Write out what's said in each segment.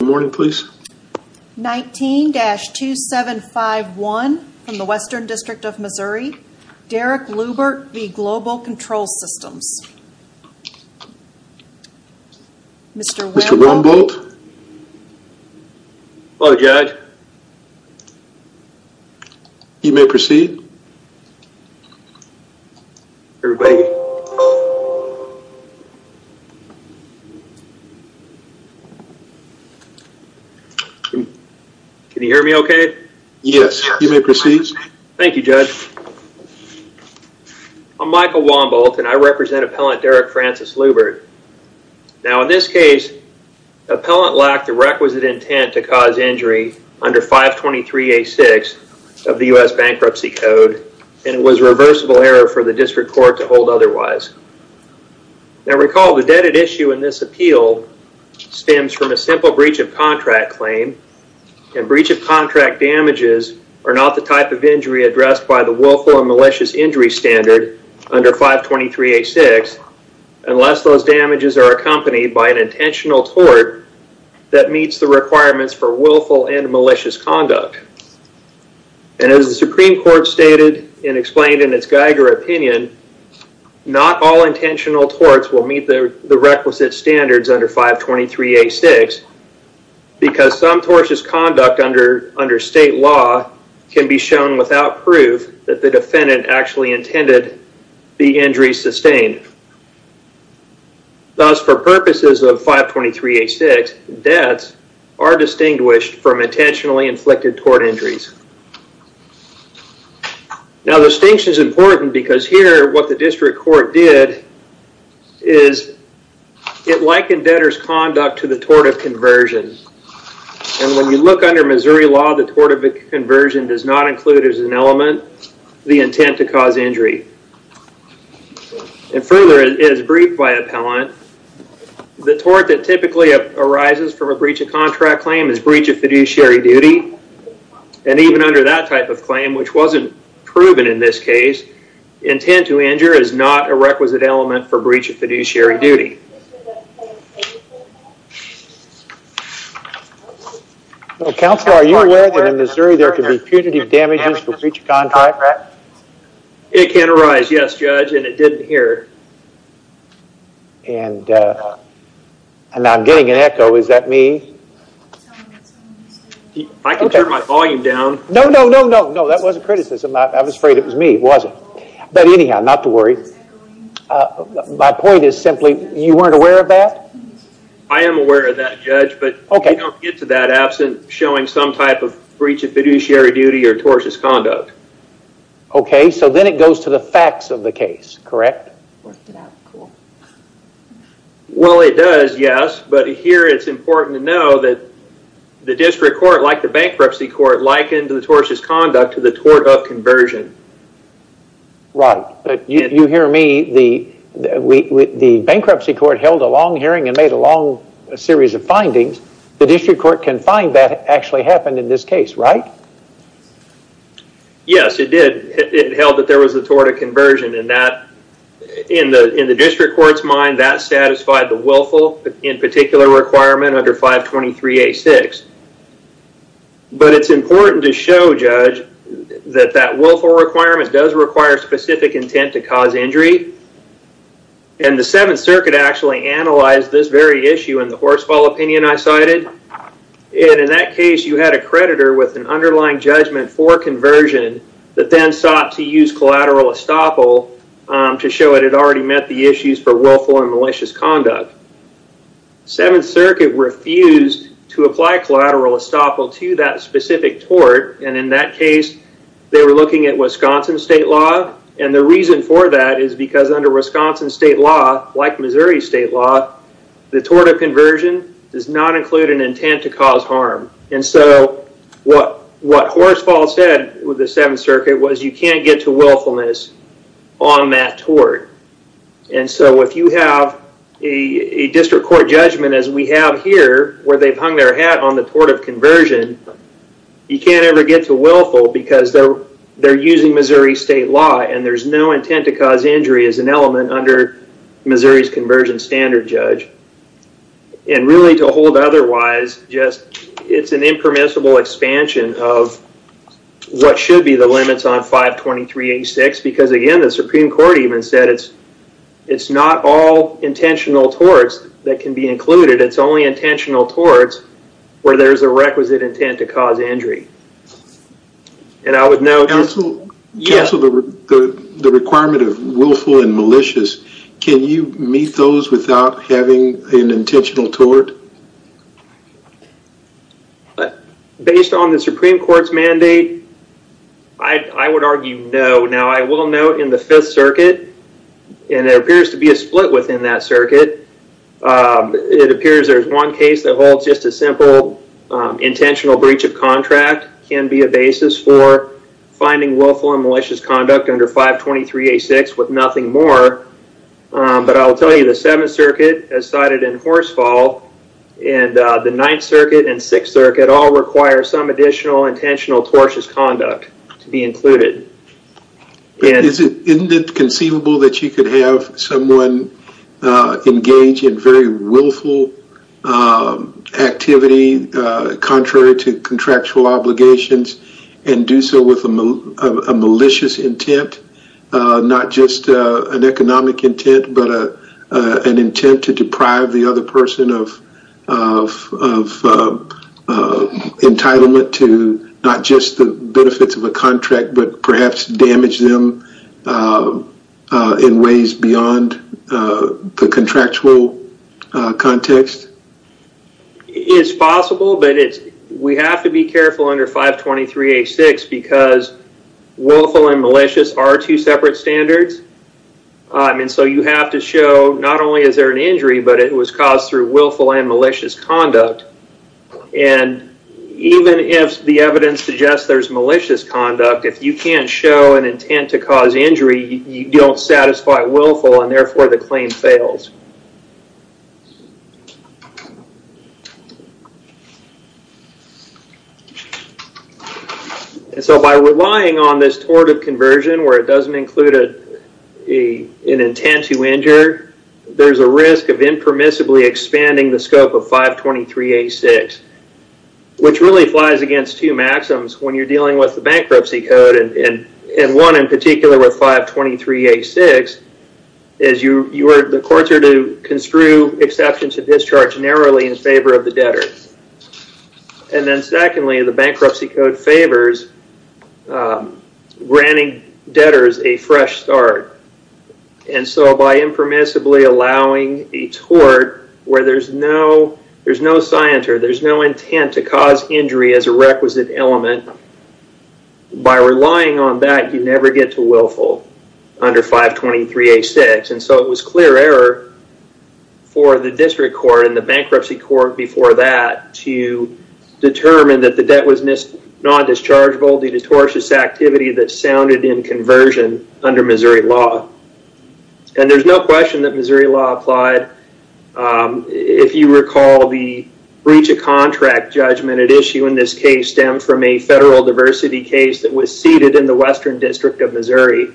Good morning, please. 19-2751 from the Western District of Missouri, Derek Luebbert v. Global Control Systems. Mr. Wemble. Mr. Wemble. Hello, Judge. You may proceed. Everybody. Can you hear me okay? Yes, you may proceed. Thank you, Judge. I'm Michael Wemble, and I represent Appellant Derek Francis Luebbert. Now, in this case, the appellant lacked the requisite intent to cause injury under 523A6 of the U.S. Bankruptcy Code, and it was a reversible error for the District Court to hold otherwise. Now, recall the debted issue in this appeal stems from a simple breach of contract claim, and breach of contract damages are not the type of injury addressed by the Willful and Malicious Injury Standard under 523A6 unless those damages are accompanied by an intentional tort that meets the requirements for willful and malicious conduct. And as the Supreme Court stated and explained in its Geiger opinion, not all intentional torts will meet the requisite standards under 523A6 because some tortious conduct under state law can be shown without proof that the defendant actually intended the injury sustained. Thus, for purposes of 523A6, debts are distinguished from intentionally inflicted tort injuries. Now, distinction is important because here what the District Court did is it likened debtor's conduct to the tort of conversion, and when you look under Missouri law, the tort of conversion does not include as an element the intent to cause injury. And further, it is briefed by appellant. The tort that typically arises from a breach of contract claim is breach of fiduciary duty, and even under that type of claim, which wasn't proven in this case, intent to injure is not a requisite element for breach of fiduciary duty. Counselor, are you aware that in Missouri there can be punitive damages for breach of contract? It can arise, yes, Judge, and it didn't here. And I'm getting an echo. Is that me? I can turn my volume down. No, no, no, no. That wasn't criticism. I was afraid it was me. It wasn't. But anyhow, not to worry. My point is simply, you weren't aware of that? I am aware of that, Judge, but we don't get to that absent showing some type of breach of fiduciary duty or tortious conduct. Okay, so then it goes to the facts of the case, correct? Well, it does, yes, but here it's important to know that the district court, like the bankruptcy court, likened the tortious conduct to the tort of conversion. Right, but you hear me. The bankruptcy court held a long hearing and made a long series of findings. The district court can find that actually happened in this case, right? Yes, it did. It held that there was a tort of conversion. In the district court's mind, that satisfied the willful, in particular, requirement under 523A6. But it's important to show, Judge, that that willful requirement does require specific intent to cause injury. And the Seventh Circuit actually analyzed this very issue in the Horsfall opinion I cited. And in that case, you had a creditor with an underlying judgment for conversion that then sought to use collateral estoppel to show it had already met the issues for willful and malicious conduct. Seventh Circuit refused to apply collateral estoppel to that specific tort. And in that case, they were looking at Wisconsin state law. And the reason for that is because under Wisconsin state law, like Missouri state law, the tort of conversion does not include an intent to cause harm. And so what Horsfall said with the Seventh Circuit was you can't get to willfulness on that tort. And so if you have a district court judgment as we have here, where they've hung their hat on the tort of conversion, you can't ever get to willful because they're using Missouri state law and there's no intent to cause injury as an element under Missouri's conversion standard, Judge. And really, to hold otherwise, it's an impermissible expansion of what should be the limits on 52386 because, again, the Supreme Court even said it's not all intentional torts that can be included. It's only intentional torts where there's a requisite intent to cause injury. And I would note... Counsel, the requirement of willful and malicious, can you meet those without having an intentional tort? Based on the Supreme Court's mandate, I would argue no. Now, I will note in the Fifth Circuit, and there appears to be a split within that circuit, it appears there's one case that holds just a simple intentional breach of contract can be a basis for finding willful and malicious conduct under 52386 with nothing more. But I'll tell you, the Seventh Circuit has cited in Horsefall, and the Ninth Circuit and Sixth Circuit all require some additional intentional tortious conduct to be included. Isn't it conceivable that you could have someone engage in very willful activity contrary to contractual obligations and do so with a malicious intent? Not just an economic intent, but an intent to deprive the other person of entitlement to not just the benefits of a contract, but perhaps damage them in ways beyond the contractual context? It's possible, but we have to be careful under 52386 because willful and malicious are two separate standards. And so you have to show not only is there an injury, but it was caused through willful and malicious conduct. And even if the evidence suggests there's malicious conduct, if you can't show an intent to cause injury, you don't satisfy willful and therefore the claim fails. And so by relying on this tort of conversion where it doesn't include an intent to injure, there's a risk of impermissibly expanding the scope of 52386, which really flies against two maxims when you're dealing with the bankruptcy code, and one in particular with 52386 is the courts are to construe exceptions to discharge narrowly in favor of the debtor. And then secondly, the bankruptcy code favors granting debtors a fresh start. And so by impermissibly allowing a tort where there's no scienter, there's no intent to cause injury as a requisite element, by relying on that, you never get to willful under 52386. And so it was clear error for the district court and the bankruptcy court before that to determine that the debt was non-dischargeable due to tortious activity that sounded in conversion under Missouri law. And there's no question that Missouri law applied. If you recall, the breach of contract judgment at issue in this case stemmed from a federal diversity case that was seated in the Western District of Missouri.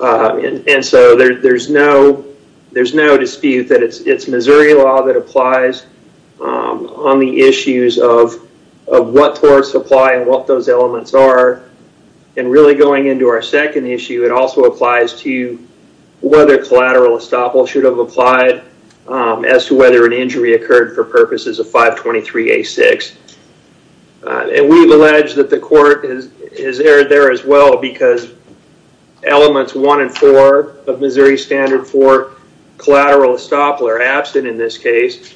And so there's no dispute that it's Missouri law that applies on the issues of what torts apply and what those elements are and really going into our second issue, it also applies to whether collateral estoppel should have applied as to whether an injury occurred for purposes of 52386. And we've alleged that the court has erred there as well because elements one and four of Missouri standard for collateral estoppel are absent in this case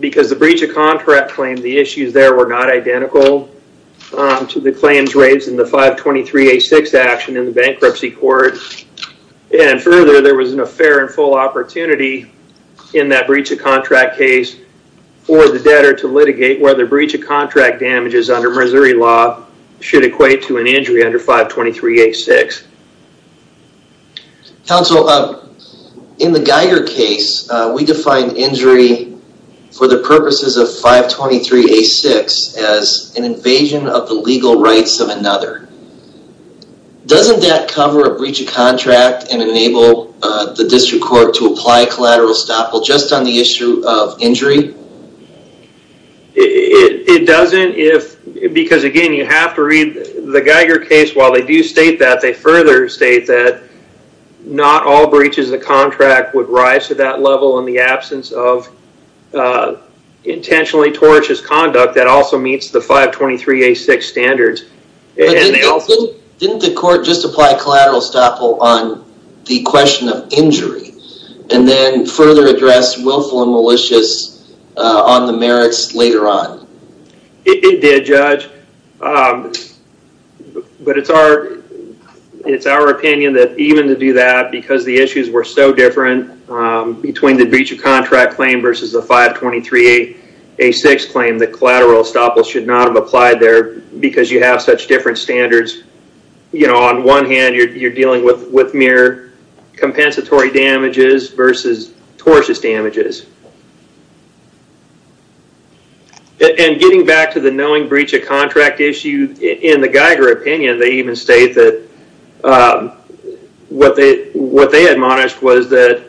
because the breach of contract claim, the issues there were not identical to the claims raised in the 52386 action in the bankruptcy court. And further, there was no fair and full opportunity in that breach of contract case for the debtor to litigate whether breach of contract damages under Missouri law should equate to an injury under 52386. Counsel, in the Geiger case, we defined injury for the purposes of 52386 as an invasion of the legal rights of another. Doesn't that cover a breach of contract and enable the district court to apply collateral estoppel just on the issue of injury? It doesn't, because again, you have to read the Geiger case. While they do state that, they further state that not all breaches of contract would rise to that level in the absence of intentionally tortious conduct that also meets the 52386 standards. Didn't the court just apply collateral estoppel on the question of injury and then further address willful and malicious on the merits later on? It did, Judge. But it's our opinion that even to do that, because the issues were so different between the breach of contract claim versus the 52386 claim, that collateral estoppel should not have applied there because you have such different standards. On one hand, you're dealing with mere compensatory damages versus tortious damages. Getting back to the knowing breach of contract issue, in the Geiger opinion, they even state that what they admonished was that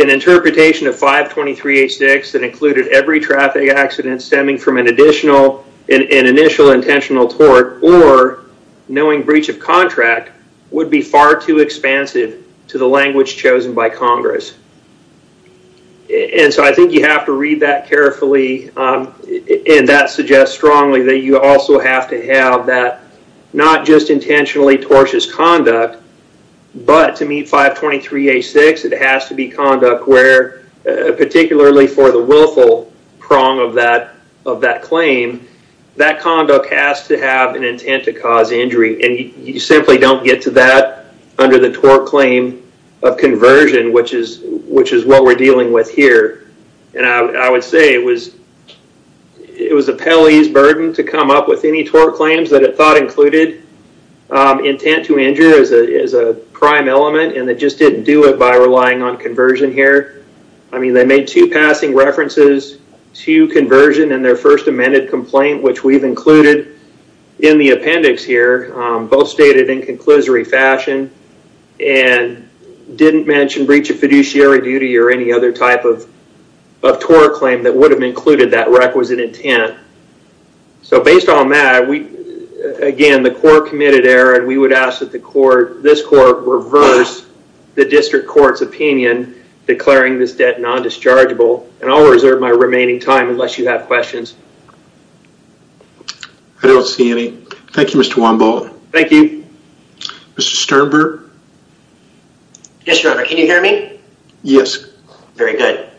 an interpretation of 52386 that included every traffic accident stemming from an initial intentional tort or knowing breach of contract would be far too expansive to the language chosen by Congress. And so I think you have to read that carefully. And that suggests strongly that you also have to have that not just intentionally tortious conduct, but to meet 52386, it has to be conduct where, particularly for the willful prong of that claim, that conduct has to have an intent to cause injury. And you simply don't get to that under the tort claim of conversion, which is what we're dealing with here. And I would say it was a Pelley's burden to come up with any tort claims that it thought included intent to injure as a prime element and they just didn't do it by relying on conversion here. I mean, they made two passing references to conversion in their first amended complaint, which we've included in the appendix here, both stated in conclusory fashion, and didn't mention breach of fiduciary duty or any other type of tort claim that would have included that requisite intent. So based on that, again, the court committed error and we would ask that this court reverse the district court's opinion declaring this debt non-dischargeable. And I'll reserve my remaining time unless you have questions. I don't see any. Thank you, Mr. Wambull. Thank you. Mr. Luber? Yes, Your Honor. Can you hear me? Yes. Very good.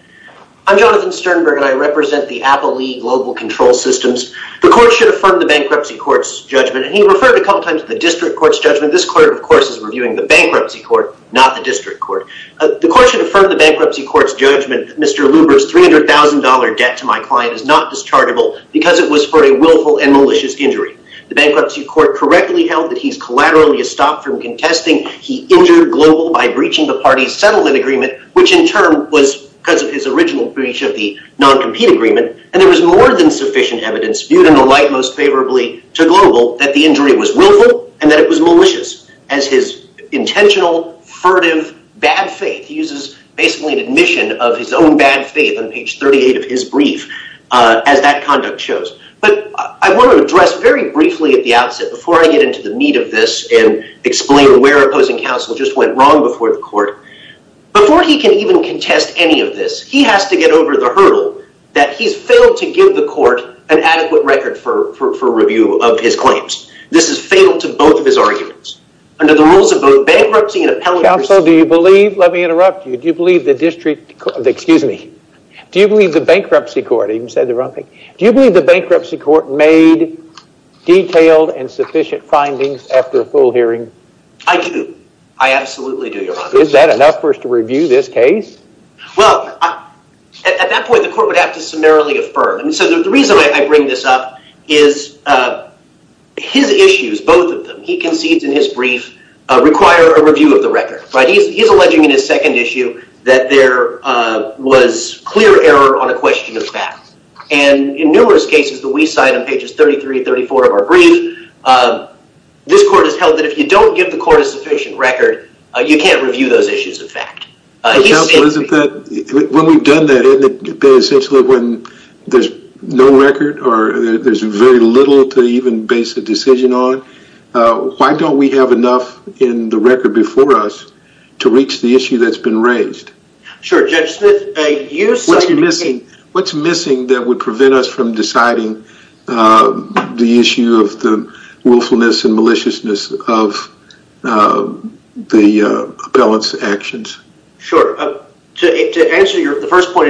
I'm Jonathan Sternberg and I represent the Appley Global Control Systems. The court should affirm the bankruptcy court's judgment and he referred a couple times to the district court's judgment. This court, of course, is reviewing the bankruptcy court, not the district court. The court should affirm the bankruptcy court's judgment that Mr. Luber's $300,000 debt to my client is not dischargeable because it was for a willful and malicious injury. The bankruptcy court correctly held that he's collaterally stopped from contesting. He injured Global by breaching the parties settlement agreement which in turn was because of his original breach of the non-compete agreement. And there was more than sufficient evidence viewed in the light most favorably to Global that the injury was willful and that it was malicious as his intentional, furtive, bad faith. He uses basically an admission of his own bad faith on page 38 of his brief as that conduct shows. But I want to address very briefly at the outset the need of this and explain where opposing counsel just went wrong before the court. Before he can even contest any of this, he has to get over the hurdle that he's failed to give the court an adequate record for review of his claims. This is fatal to both of his arguments. Under the rules of both bankruptcy and appellate... Counsel, do you believe, let me interrupt you, do you believe the district court, excuse me, do you believe the bankruptcy court, I even said the wrong thing, do you believe the bankruptcy court made detailed and sufficient findings after a full hearing? I do. I absolutely do, Your Honor. Is that enough for us to review this case? Well, at that point the court would have to summarily affirm. And so the reason I bring this up is his issues, both of them, he concedes in his brief require a review of the record. He's alleging in his second issue that there was clear error on a question of facts. And in numerous cases that we cite on pages 33 and 34 of our brief this court has held that if you don't give the court a sufficient record you can't review those issues of fact. But, Counsel, isn't that, when we've done that, isn't it essentially when there's no record or there's very little to even base a decision on, why don't we have enough in the record before us to reach the issue that's been raised? Sure, Judge Smith, you cite... What's missing, what's missing that would prevent us from deciding the issue of the willfulness and maliciousness of the appellant's actions? Sure. To answer the first part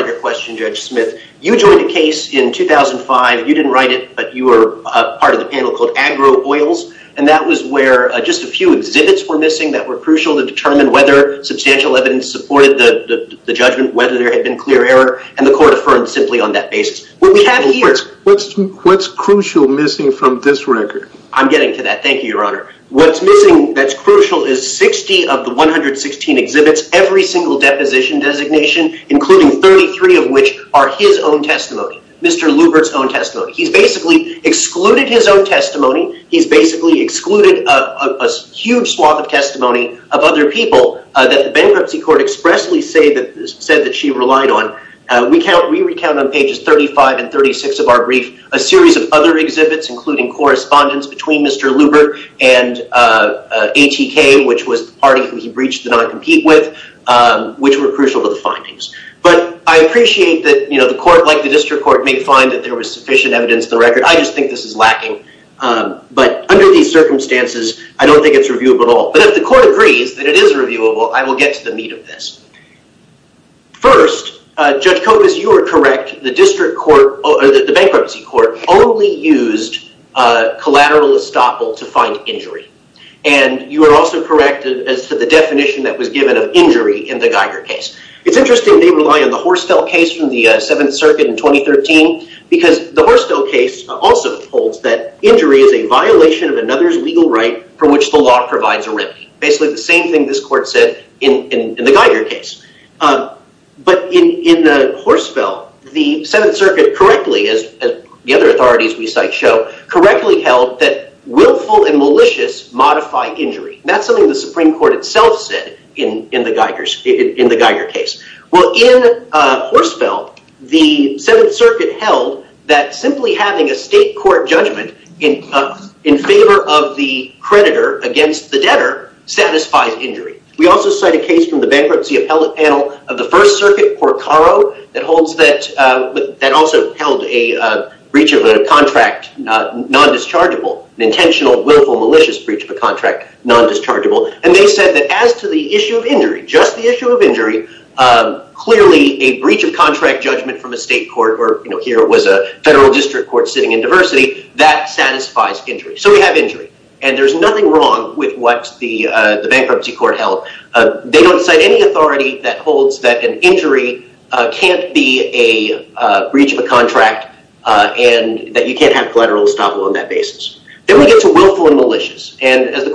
of your question, Judge Smith, you joined a case in 2005, you didn't write it, but you were part of the panel called AgroOils, and that was where just a few exhibits were missing that were crucial to determine whether substantial evidence supported the judgment, whether there had been clear error, and the court affirmed simply on that basis. What's crucial missing from this record? I'm getting to that, thank you, Your Honor. What's missing that's crucial is 60 of the 116 exhibits, every single deposition designation, including 33 of which are his own testimony, Mr. Lubert's own testimony. He's basically excluded his own testimony, he's basically excluded a huge swath of testimony of other people that the bankruptcy court expressly said that she relied on. We recount on pages 35 and 36 of our brief a series of other exhibits, including correspondence between Mr. Lubert and ATK, which was the party who he breached the non-compete with, which were crucial to the findings. But I appreciate that the court, like the district court, may find that there was sufficient evidence in the record. I just think this is lacking. But under these circumstances, I don't think it's reviewable at all. But if the court agrees that it is reviewable, I will get to the meat of this. Judge Copas, you are correct, the bankruptcy court only used collateral estoppel to find injury. And you are also correct as to the definition that was given of injury in the Geiger case. It's interesting they rely on the Horsfell case from the 7th Circuit in 2013, because the Horsfell case also holds that injury is a violation of another's legal right for which the law provides a remedy. Basically the same thing this court said in the Geiger case. But in the Horsfell, the 7th Circuit correctly, as the other authorities we cite show, correctly held that willful and malicious modify injury. That's something the Supreme Court itself said in the Geiger case. Well, in Horsfell, the 7th Circuit held that simply having a state court judgment in favor of the creditor against the debtor satisfies injury. We also cite a case from the bankruptcy appellate panel of the 1st Circuit, Porcaro, that also held a breach of a contract non-dischargeable. An intentional, willful, malicious breach of a contract non-dischargeable. And they said that as to the issue of injury, just the issue of injury, clearly a breach of contract judgment from a state court, or here it was a federal district court sitting in diversity, that satisfies injury. So we have injury. And there's nothing wrong with what the bankruptcy court held. They don't cite any authority that holds that an injury can't be a breach of a contract and that you can't have collateral estoppel on that basis. Then we get to willful and malicious. And as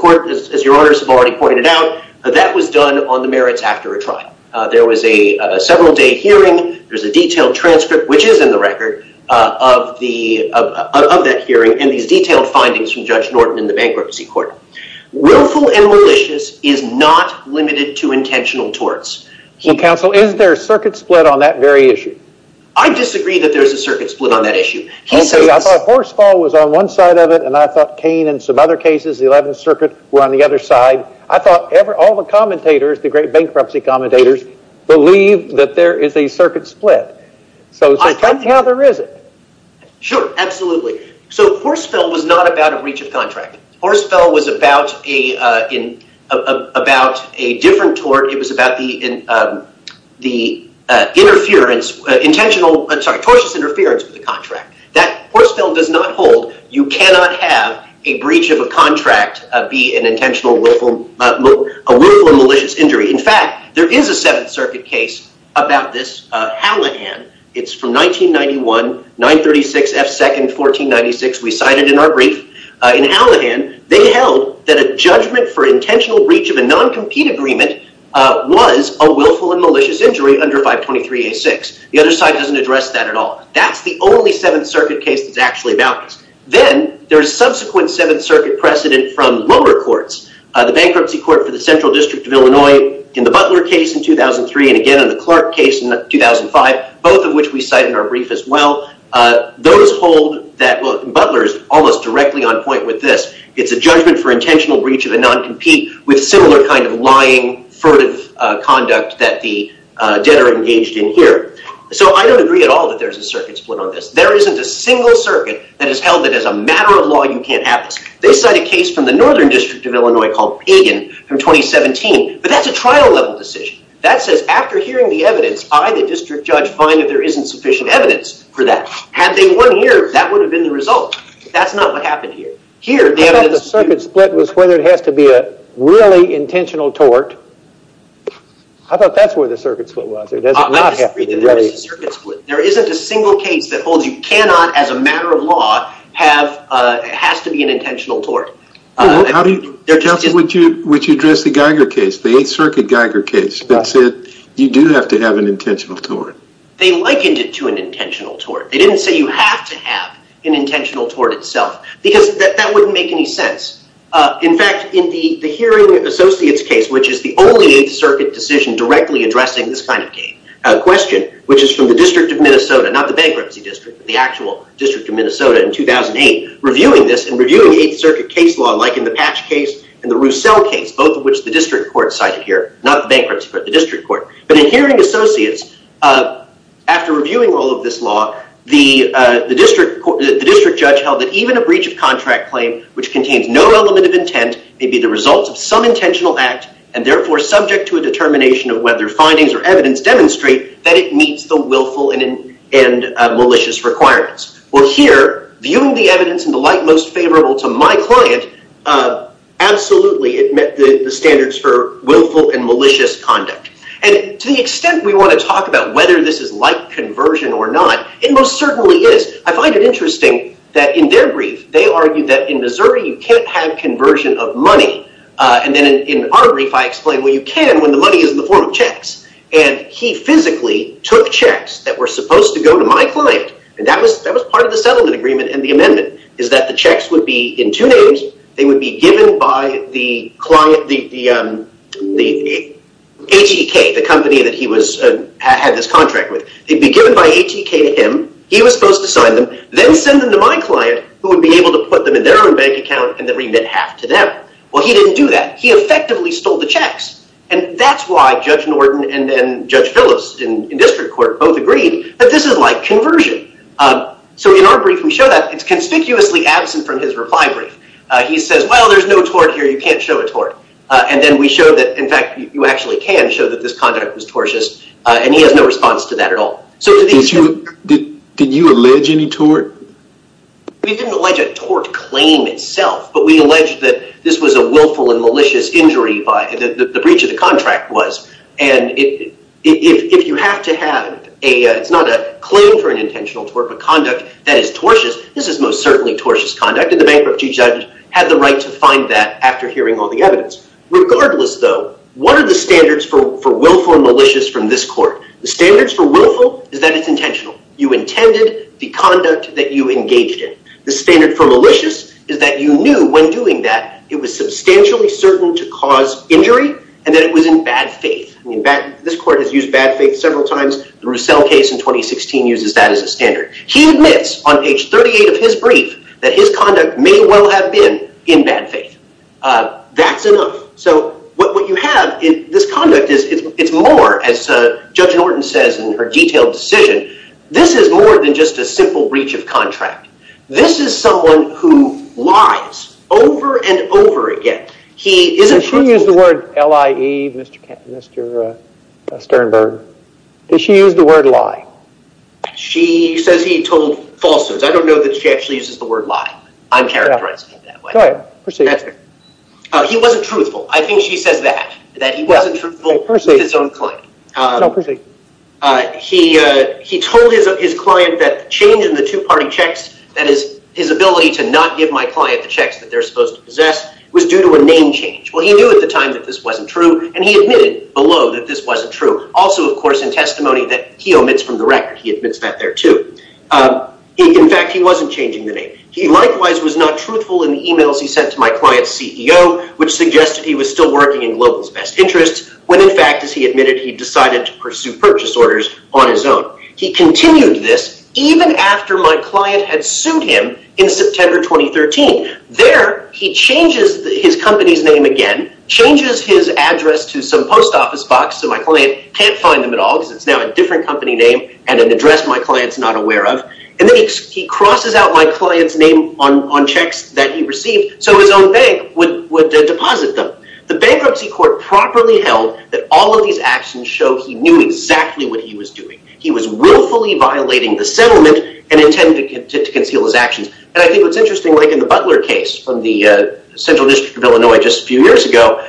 your honors have already pointed out, that was done on the merits after a trial. There was a several day hearing. There's a detailed transcript, which is in the record, of that hearing and these detailed findings from Judge Norton in the bankruptcy court. Willful and malicious is not limited to intentional torts. Counsel, is there a circuit split on that very issue? I disagree that there's a circuit split on that issue. I thought Horsfall was on one side of it and I thought Kane and some other cases, the 11th Circuit, were on the other side. I thought all the commentators, the great bankruptcy commentators, believe that there is a circuit split. So, from now, there isn't. Sure, absolutely. So, Horsfall was not about a breach of contract. Horsfall was about a different tort. It was about the tortuous interference with the contract. Horsfall does not hold you cannot have a breach of a contract be an intentional willful and malicious injury. In fact, there is a 7th Circuit case about this. Hallahan, it's from 1991, 936 F. 2nd, 1496, we cited in our brief. In Hallahan, they held that a judgment for intentional breach of a non-compete agreement was a willful and malicious injury under 523 A. 6. The other side doesn't address that at all. That's the only 7th Circuit case that's actually about this. Then, there's subsequent 7th Circuit precedent from lower courts. The bankruptcy court for the Clark case in 2005, both of which we cite in our brief as well. Those hold that Butler is almost directly on point with this. It's a judgment for intentional breach of a non-compete with similar kind of lying furtive conduct that the debtor engaged in here. So, I don't agree at all that there's a circuit split on this. There isn't a single circuit that has held that as a matter of law you can't have this. They cite a case from the Northern District of Illinois called Pagan from 2017, but that's a trial level decision. There isn't any evidence. I, the district judge, find that there isn't sufficient evidence for that. Had they won here, that would have been the result. That's not what happened here. I thought the circuit split was whether it has to be a really intentional tort. I thought that's where the circuit split was. I disagree. There isn't a single case that holds you cannot, as a matter of law, has to be an intentional tort. Would you address the Geiger case, the 8th Circuit Geiger case as having an intentional tort? They likened it to an intentional tort. They didn't say you have to have an intentional tort itself because that wouldn't make any sense. In fact, in the hearing associates case, which is the only 8th Circuit decision directly addressing this kind of question, which is from the District of Minnesota, not the Bankruptcy District, but the actual District of Minnesota in 2008, reviewing this and reviewing 8th Circuit case law like in the Patch case and the Roussell case, both of which the District Court cited here, not the Bankruptcy Court, the District Court. But in the hearing associates, after reviewing all of this law, the District Judge held that even a breach of contract claim which contains no element of intent may be the result of some intentional act and therefore subject to a determination of whether findings or evidence demonstrate that it meets the willful and malicious requirements. Well, here, viewing the evidence in the light most favorable to my client, absolutely it met the standards for willful and malicious conduct. And to the extent we want to talk about whether this is like conversion or not, it most certainly is. I find it interesting that in their brief, they argued that in Missouri you can't have conversion of money. And then in our brief, I explained, well, you can when the money is in the form of checks. And he physically took checks that were supposed to go to my client. And that was part of the settlement agreement and the amendment, is that the checks would be in two names. They would be given by the client, the H-E-K, the company that he had this contract with. They'd be given by H-E-K to him. He was supposed to sign them, then send them to my client who would be able to put them in their own bank account and then remit half to them. Well, he didn't do that. He effectively stole the checks. And that's why Judge Norton and then Judge Phillips in district court both agreed that this is like conversion. So in our brief, we show that it's conspicuously absent from his reply brief. He says, well, there's no tort here. You can't show a tort. And then we show that, in fact, you actually can show that this conduct was tortious. And he has no response to that at all. Did you allege any tort? We didn't allege a tort claim itself, but we alleged that this was a willful and malicious injury, the breach of the contract was. And if you have to have a, it's not a claim for an intentional tort, but conduct that is tortious, this is most certainly tortious conduct. And we suspected the bankruptcy judge had the right to find that after hearing all the evidence. Regardless, though, what are the standards for willful and malicious from this court? The standards for willful is that it's intentional. You intended the conduct that you engaged in. The standard for malicious is that you knew when doing that it was substantially certain to cause injury and that it was in bad faith. I mean, this court has used bad faith several times. The Roussel case in 2016 uses that as a standard. He admits on page 38 of his brief that his conduct may well have been in bad faith. That's enough. So what you have in this conduct is more, as Judge Norton says in her detailed decision, this is more than just a simple breach of contract. This is someone who lies over and over again. He isn't... Did she use the word L-I-E, Mr. Sternberg? Did she use the word lie? She says he told falsehoods. I don't know that she actually uses the word lie. I'm characterizing it that way. Go ahead. Proceed. He wasn't truthful. I think she says that, that he wasn't truthful with his own client. No, proceed. He told his client that the change in the two-party checks, that is, his ability to not give my client the checks that they're supposed to possess, was due to a name change. Well, he knew at the time that this wasn't true and he admitted below that this wasn't true. That's on the record. He admits that there, too. In fact, he wasn't changing the name. He likewise was not truthful in the emails he sent to my client's CEO, which suggested he was still working in Global's best interests, when in fact, as he admitted, he decided to pursue purchase orders on his own. He continued this, even after my client had sued him in September 2013. There, he changes his company's name again, changes his address to some post office box so my client can't find him at all and an address my client's not aware of. And then he crosses out my client's name on checks that he received so his own bank would deposit them. The Bankruptcy Court properly held that all of these actions show he knew exactly what he was doing. He was willfully violating the settlement and intended to conceal his actions. And I think what's interesting, like in the Butler case from the Central District of Illinois just a few years ago,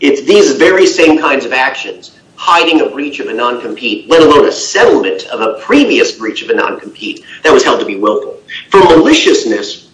it's these very same kinds of actions, hiding a breach of a non-compete, let alone a settlement of a previous breach of a non-compete that was held to be willful. For maliciousness,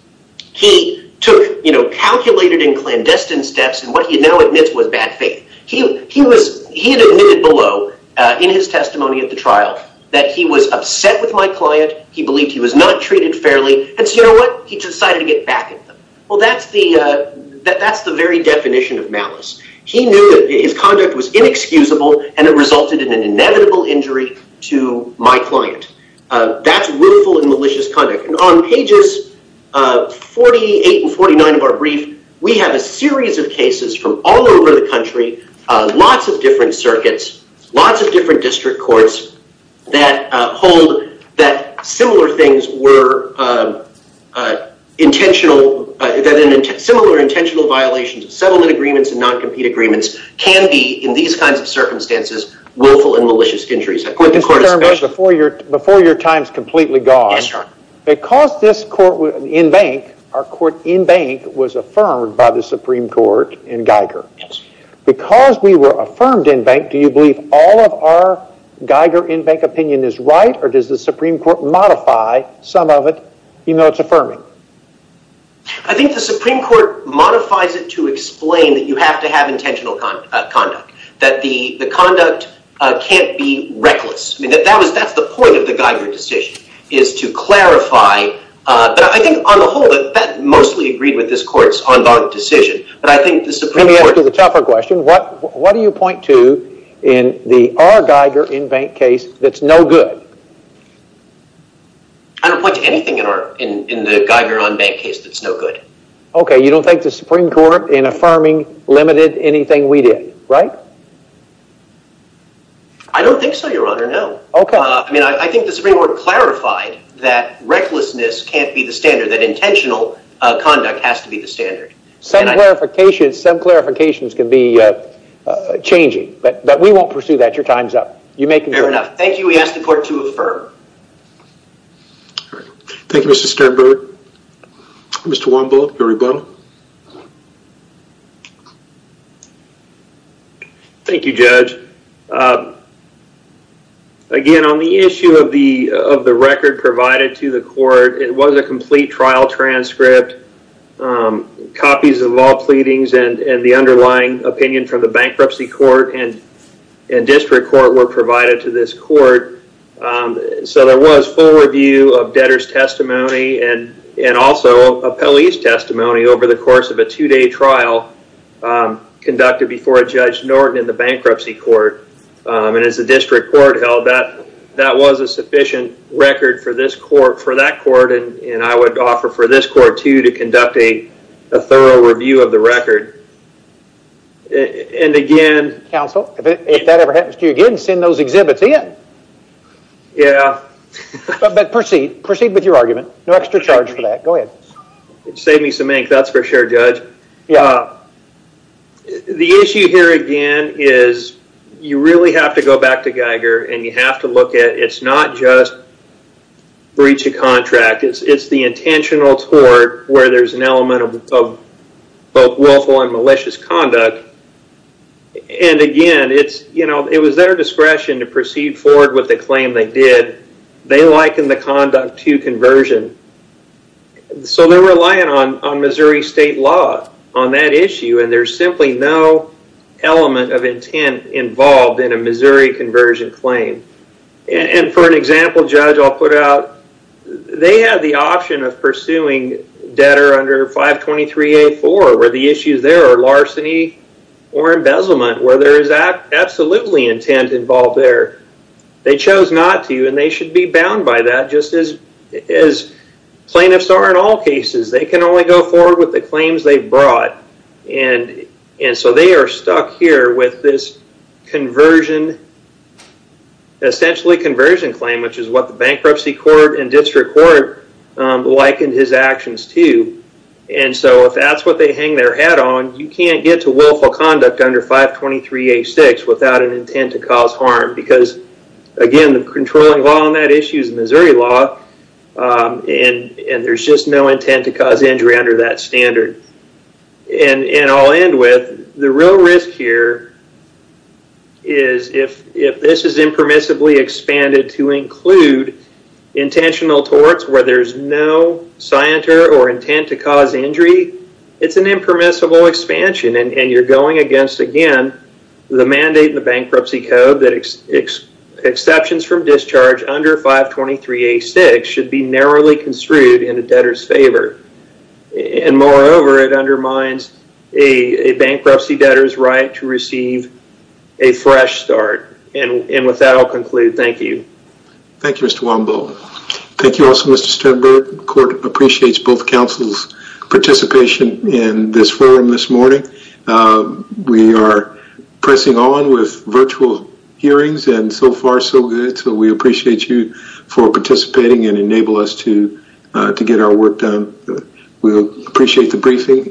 he calculated in clandestine steps and what he now admits was bad faith. He had admitted below in his testimony at the trial that he was upset with my client, he believed he was not treated fairly and so you know what? He decided to get back at them. Well, that's the very definition of malice. He knew that his conduct was inexcusable and it resulted in an inevitable injury to my client. That's rueful and malicious conduct. And on pages 48 and 49 of our brief, we have a series of cases from all over the country, lots of different circuits, lots of different district courts that hold that similar things were intentional, that similar intentional violations of settlement agreements and non-compete agreements and circumstances, willful and malicious injuries. Before your time is completely gone, because this court in bank, our court in bank, was affirmed by the Supreme Court in Geiger. Because we were affirmed in bank, do you believe all of our Geiger in bank opinion is right or does the Supreme Court modify some of it even though it's affirming? I think the Supreme Court modifies it to explain that you have to have intentional conduct. Conduct can't be reckless. That's the point of the Geiger decision is to clarify, but I think on the whole that mostly agreed with this court's on bond decision. Let me ask you a tougher question. What do you point to in our Geiger in bank case that's no good? I don't point to anything in the Geiger on bank case that's no good. Okay, you don't think the Supreme Court in affirming limited anything we did, right? I don't think so, Your Honor, no. Okay. I think the Supreme Court clarified that recklessness can't be the standard, that intentional conduct has to be the standard. Some clarifications can be changing, but we won't pursue that. Your time's up. Fair enough. Thank you. We ask the court to affirm. Thank you, Mr. Sternberg. Mr. Womble, Gary Boe. Thank you, Judge. Again, on the issue of the record provided to the court, it was a complete trial transcript, copies of all pleadings and the underlying opinion from the bankruptcy court and district court were provided to this court, so there was full review of debtor's testimony and also a police testimony over the course of a two-day trial conducted before a judge in the bankruptcy court and as the district court held, that was a sufficient record for that court and I would offer for this court, too, to conduct a thorough review of the record. And again... Counsel, if that ever happens to you again, send those exhibits in. Yeah. But proceed with your argument. No extra charge for that. Go ahead. Save me some ink, that's for sure, Judge. Yeah. The issue here, again, is you really have to go back to Geiger and you have to look at it's not just breach of contract. It's the intentional tort where there's an element of both willful and malicious conduct and again, it was their discretion to proceed forward with the claim they did. They likened the conduct to conversion, so they're relying on Missouri State law on that issue and there's simply no element of intent involved in a Missouri conversion claim. And for an example, Judge, I'll put out, they have the option of pursuing debtor under 523A4 where the issues there are larceny or embezzlement where there is absolutely intent involved there. They chose not to and they should be bound by that just as plaintiffs are in all cases. They can only go forward with what they brought and so they are stuck here with this conversion, essentially conversion claim, which is what the bankruptcy court and district court likened his actions to and so if that's what they hang their hat on, you can't get to willful conduct under 523A6 without an intent to cause harm because, again, the controlling law on that issue is Missouri law and there's just no intent and I'll end with the real risk here is if this is impermissibly expanded to include intentional torts where there's no scienter or intent to cause injury, it's an impermissible expansion and you're going against, again, the mandate in the bankruptcy code that exceptions from discharge under 523A6 should be narrowly construed in a debtor's favor and, moreover, it undermines a bankruptcy debtor's right to receive a fresh start and with that I'll conclude. Thank you. Thank you, Mr. Wambo. Thank you also, Mr. Sternberg. The court appreciates both councils' participation in this forum this morning. We are pressing on with virtual hearings and so far so good so we appreciate you for participating and enabling us to get our work done. We appreciate the briefing.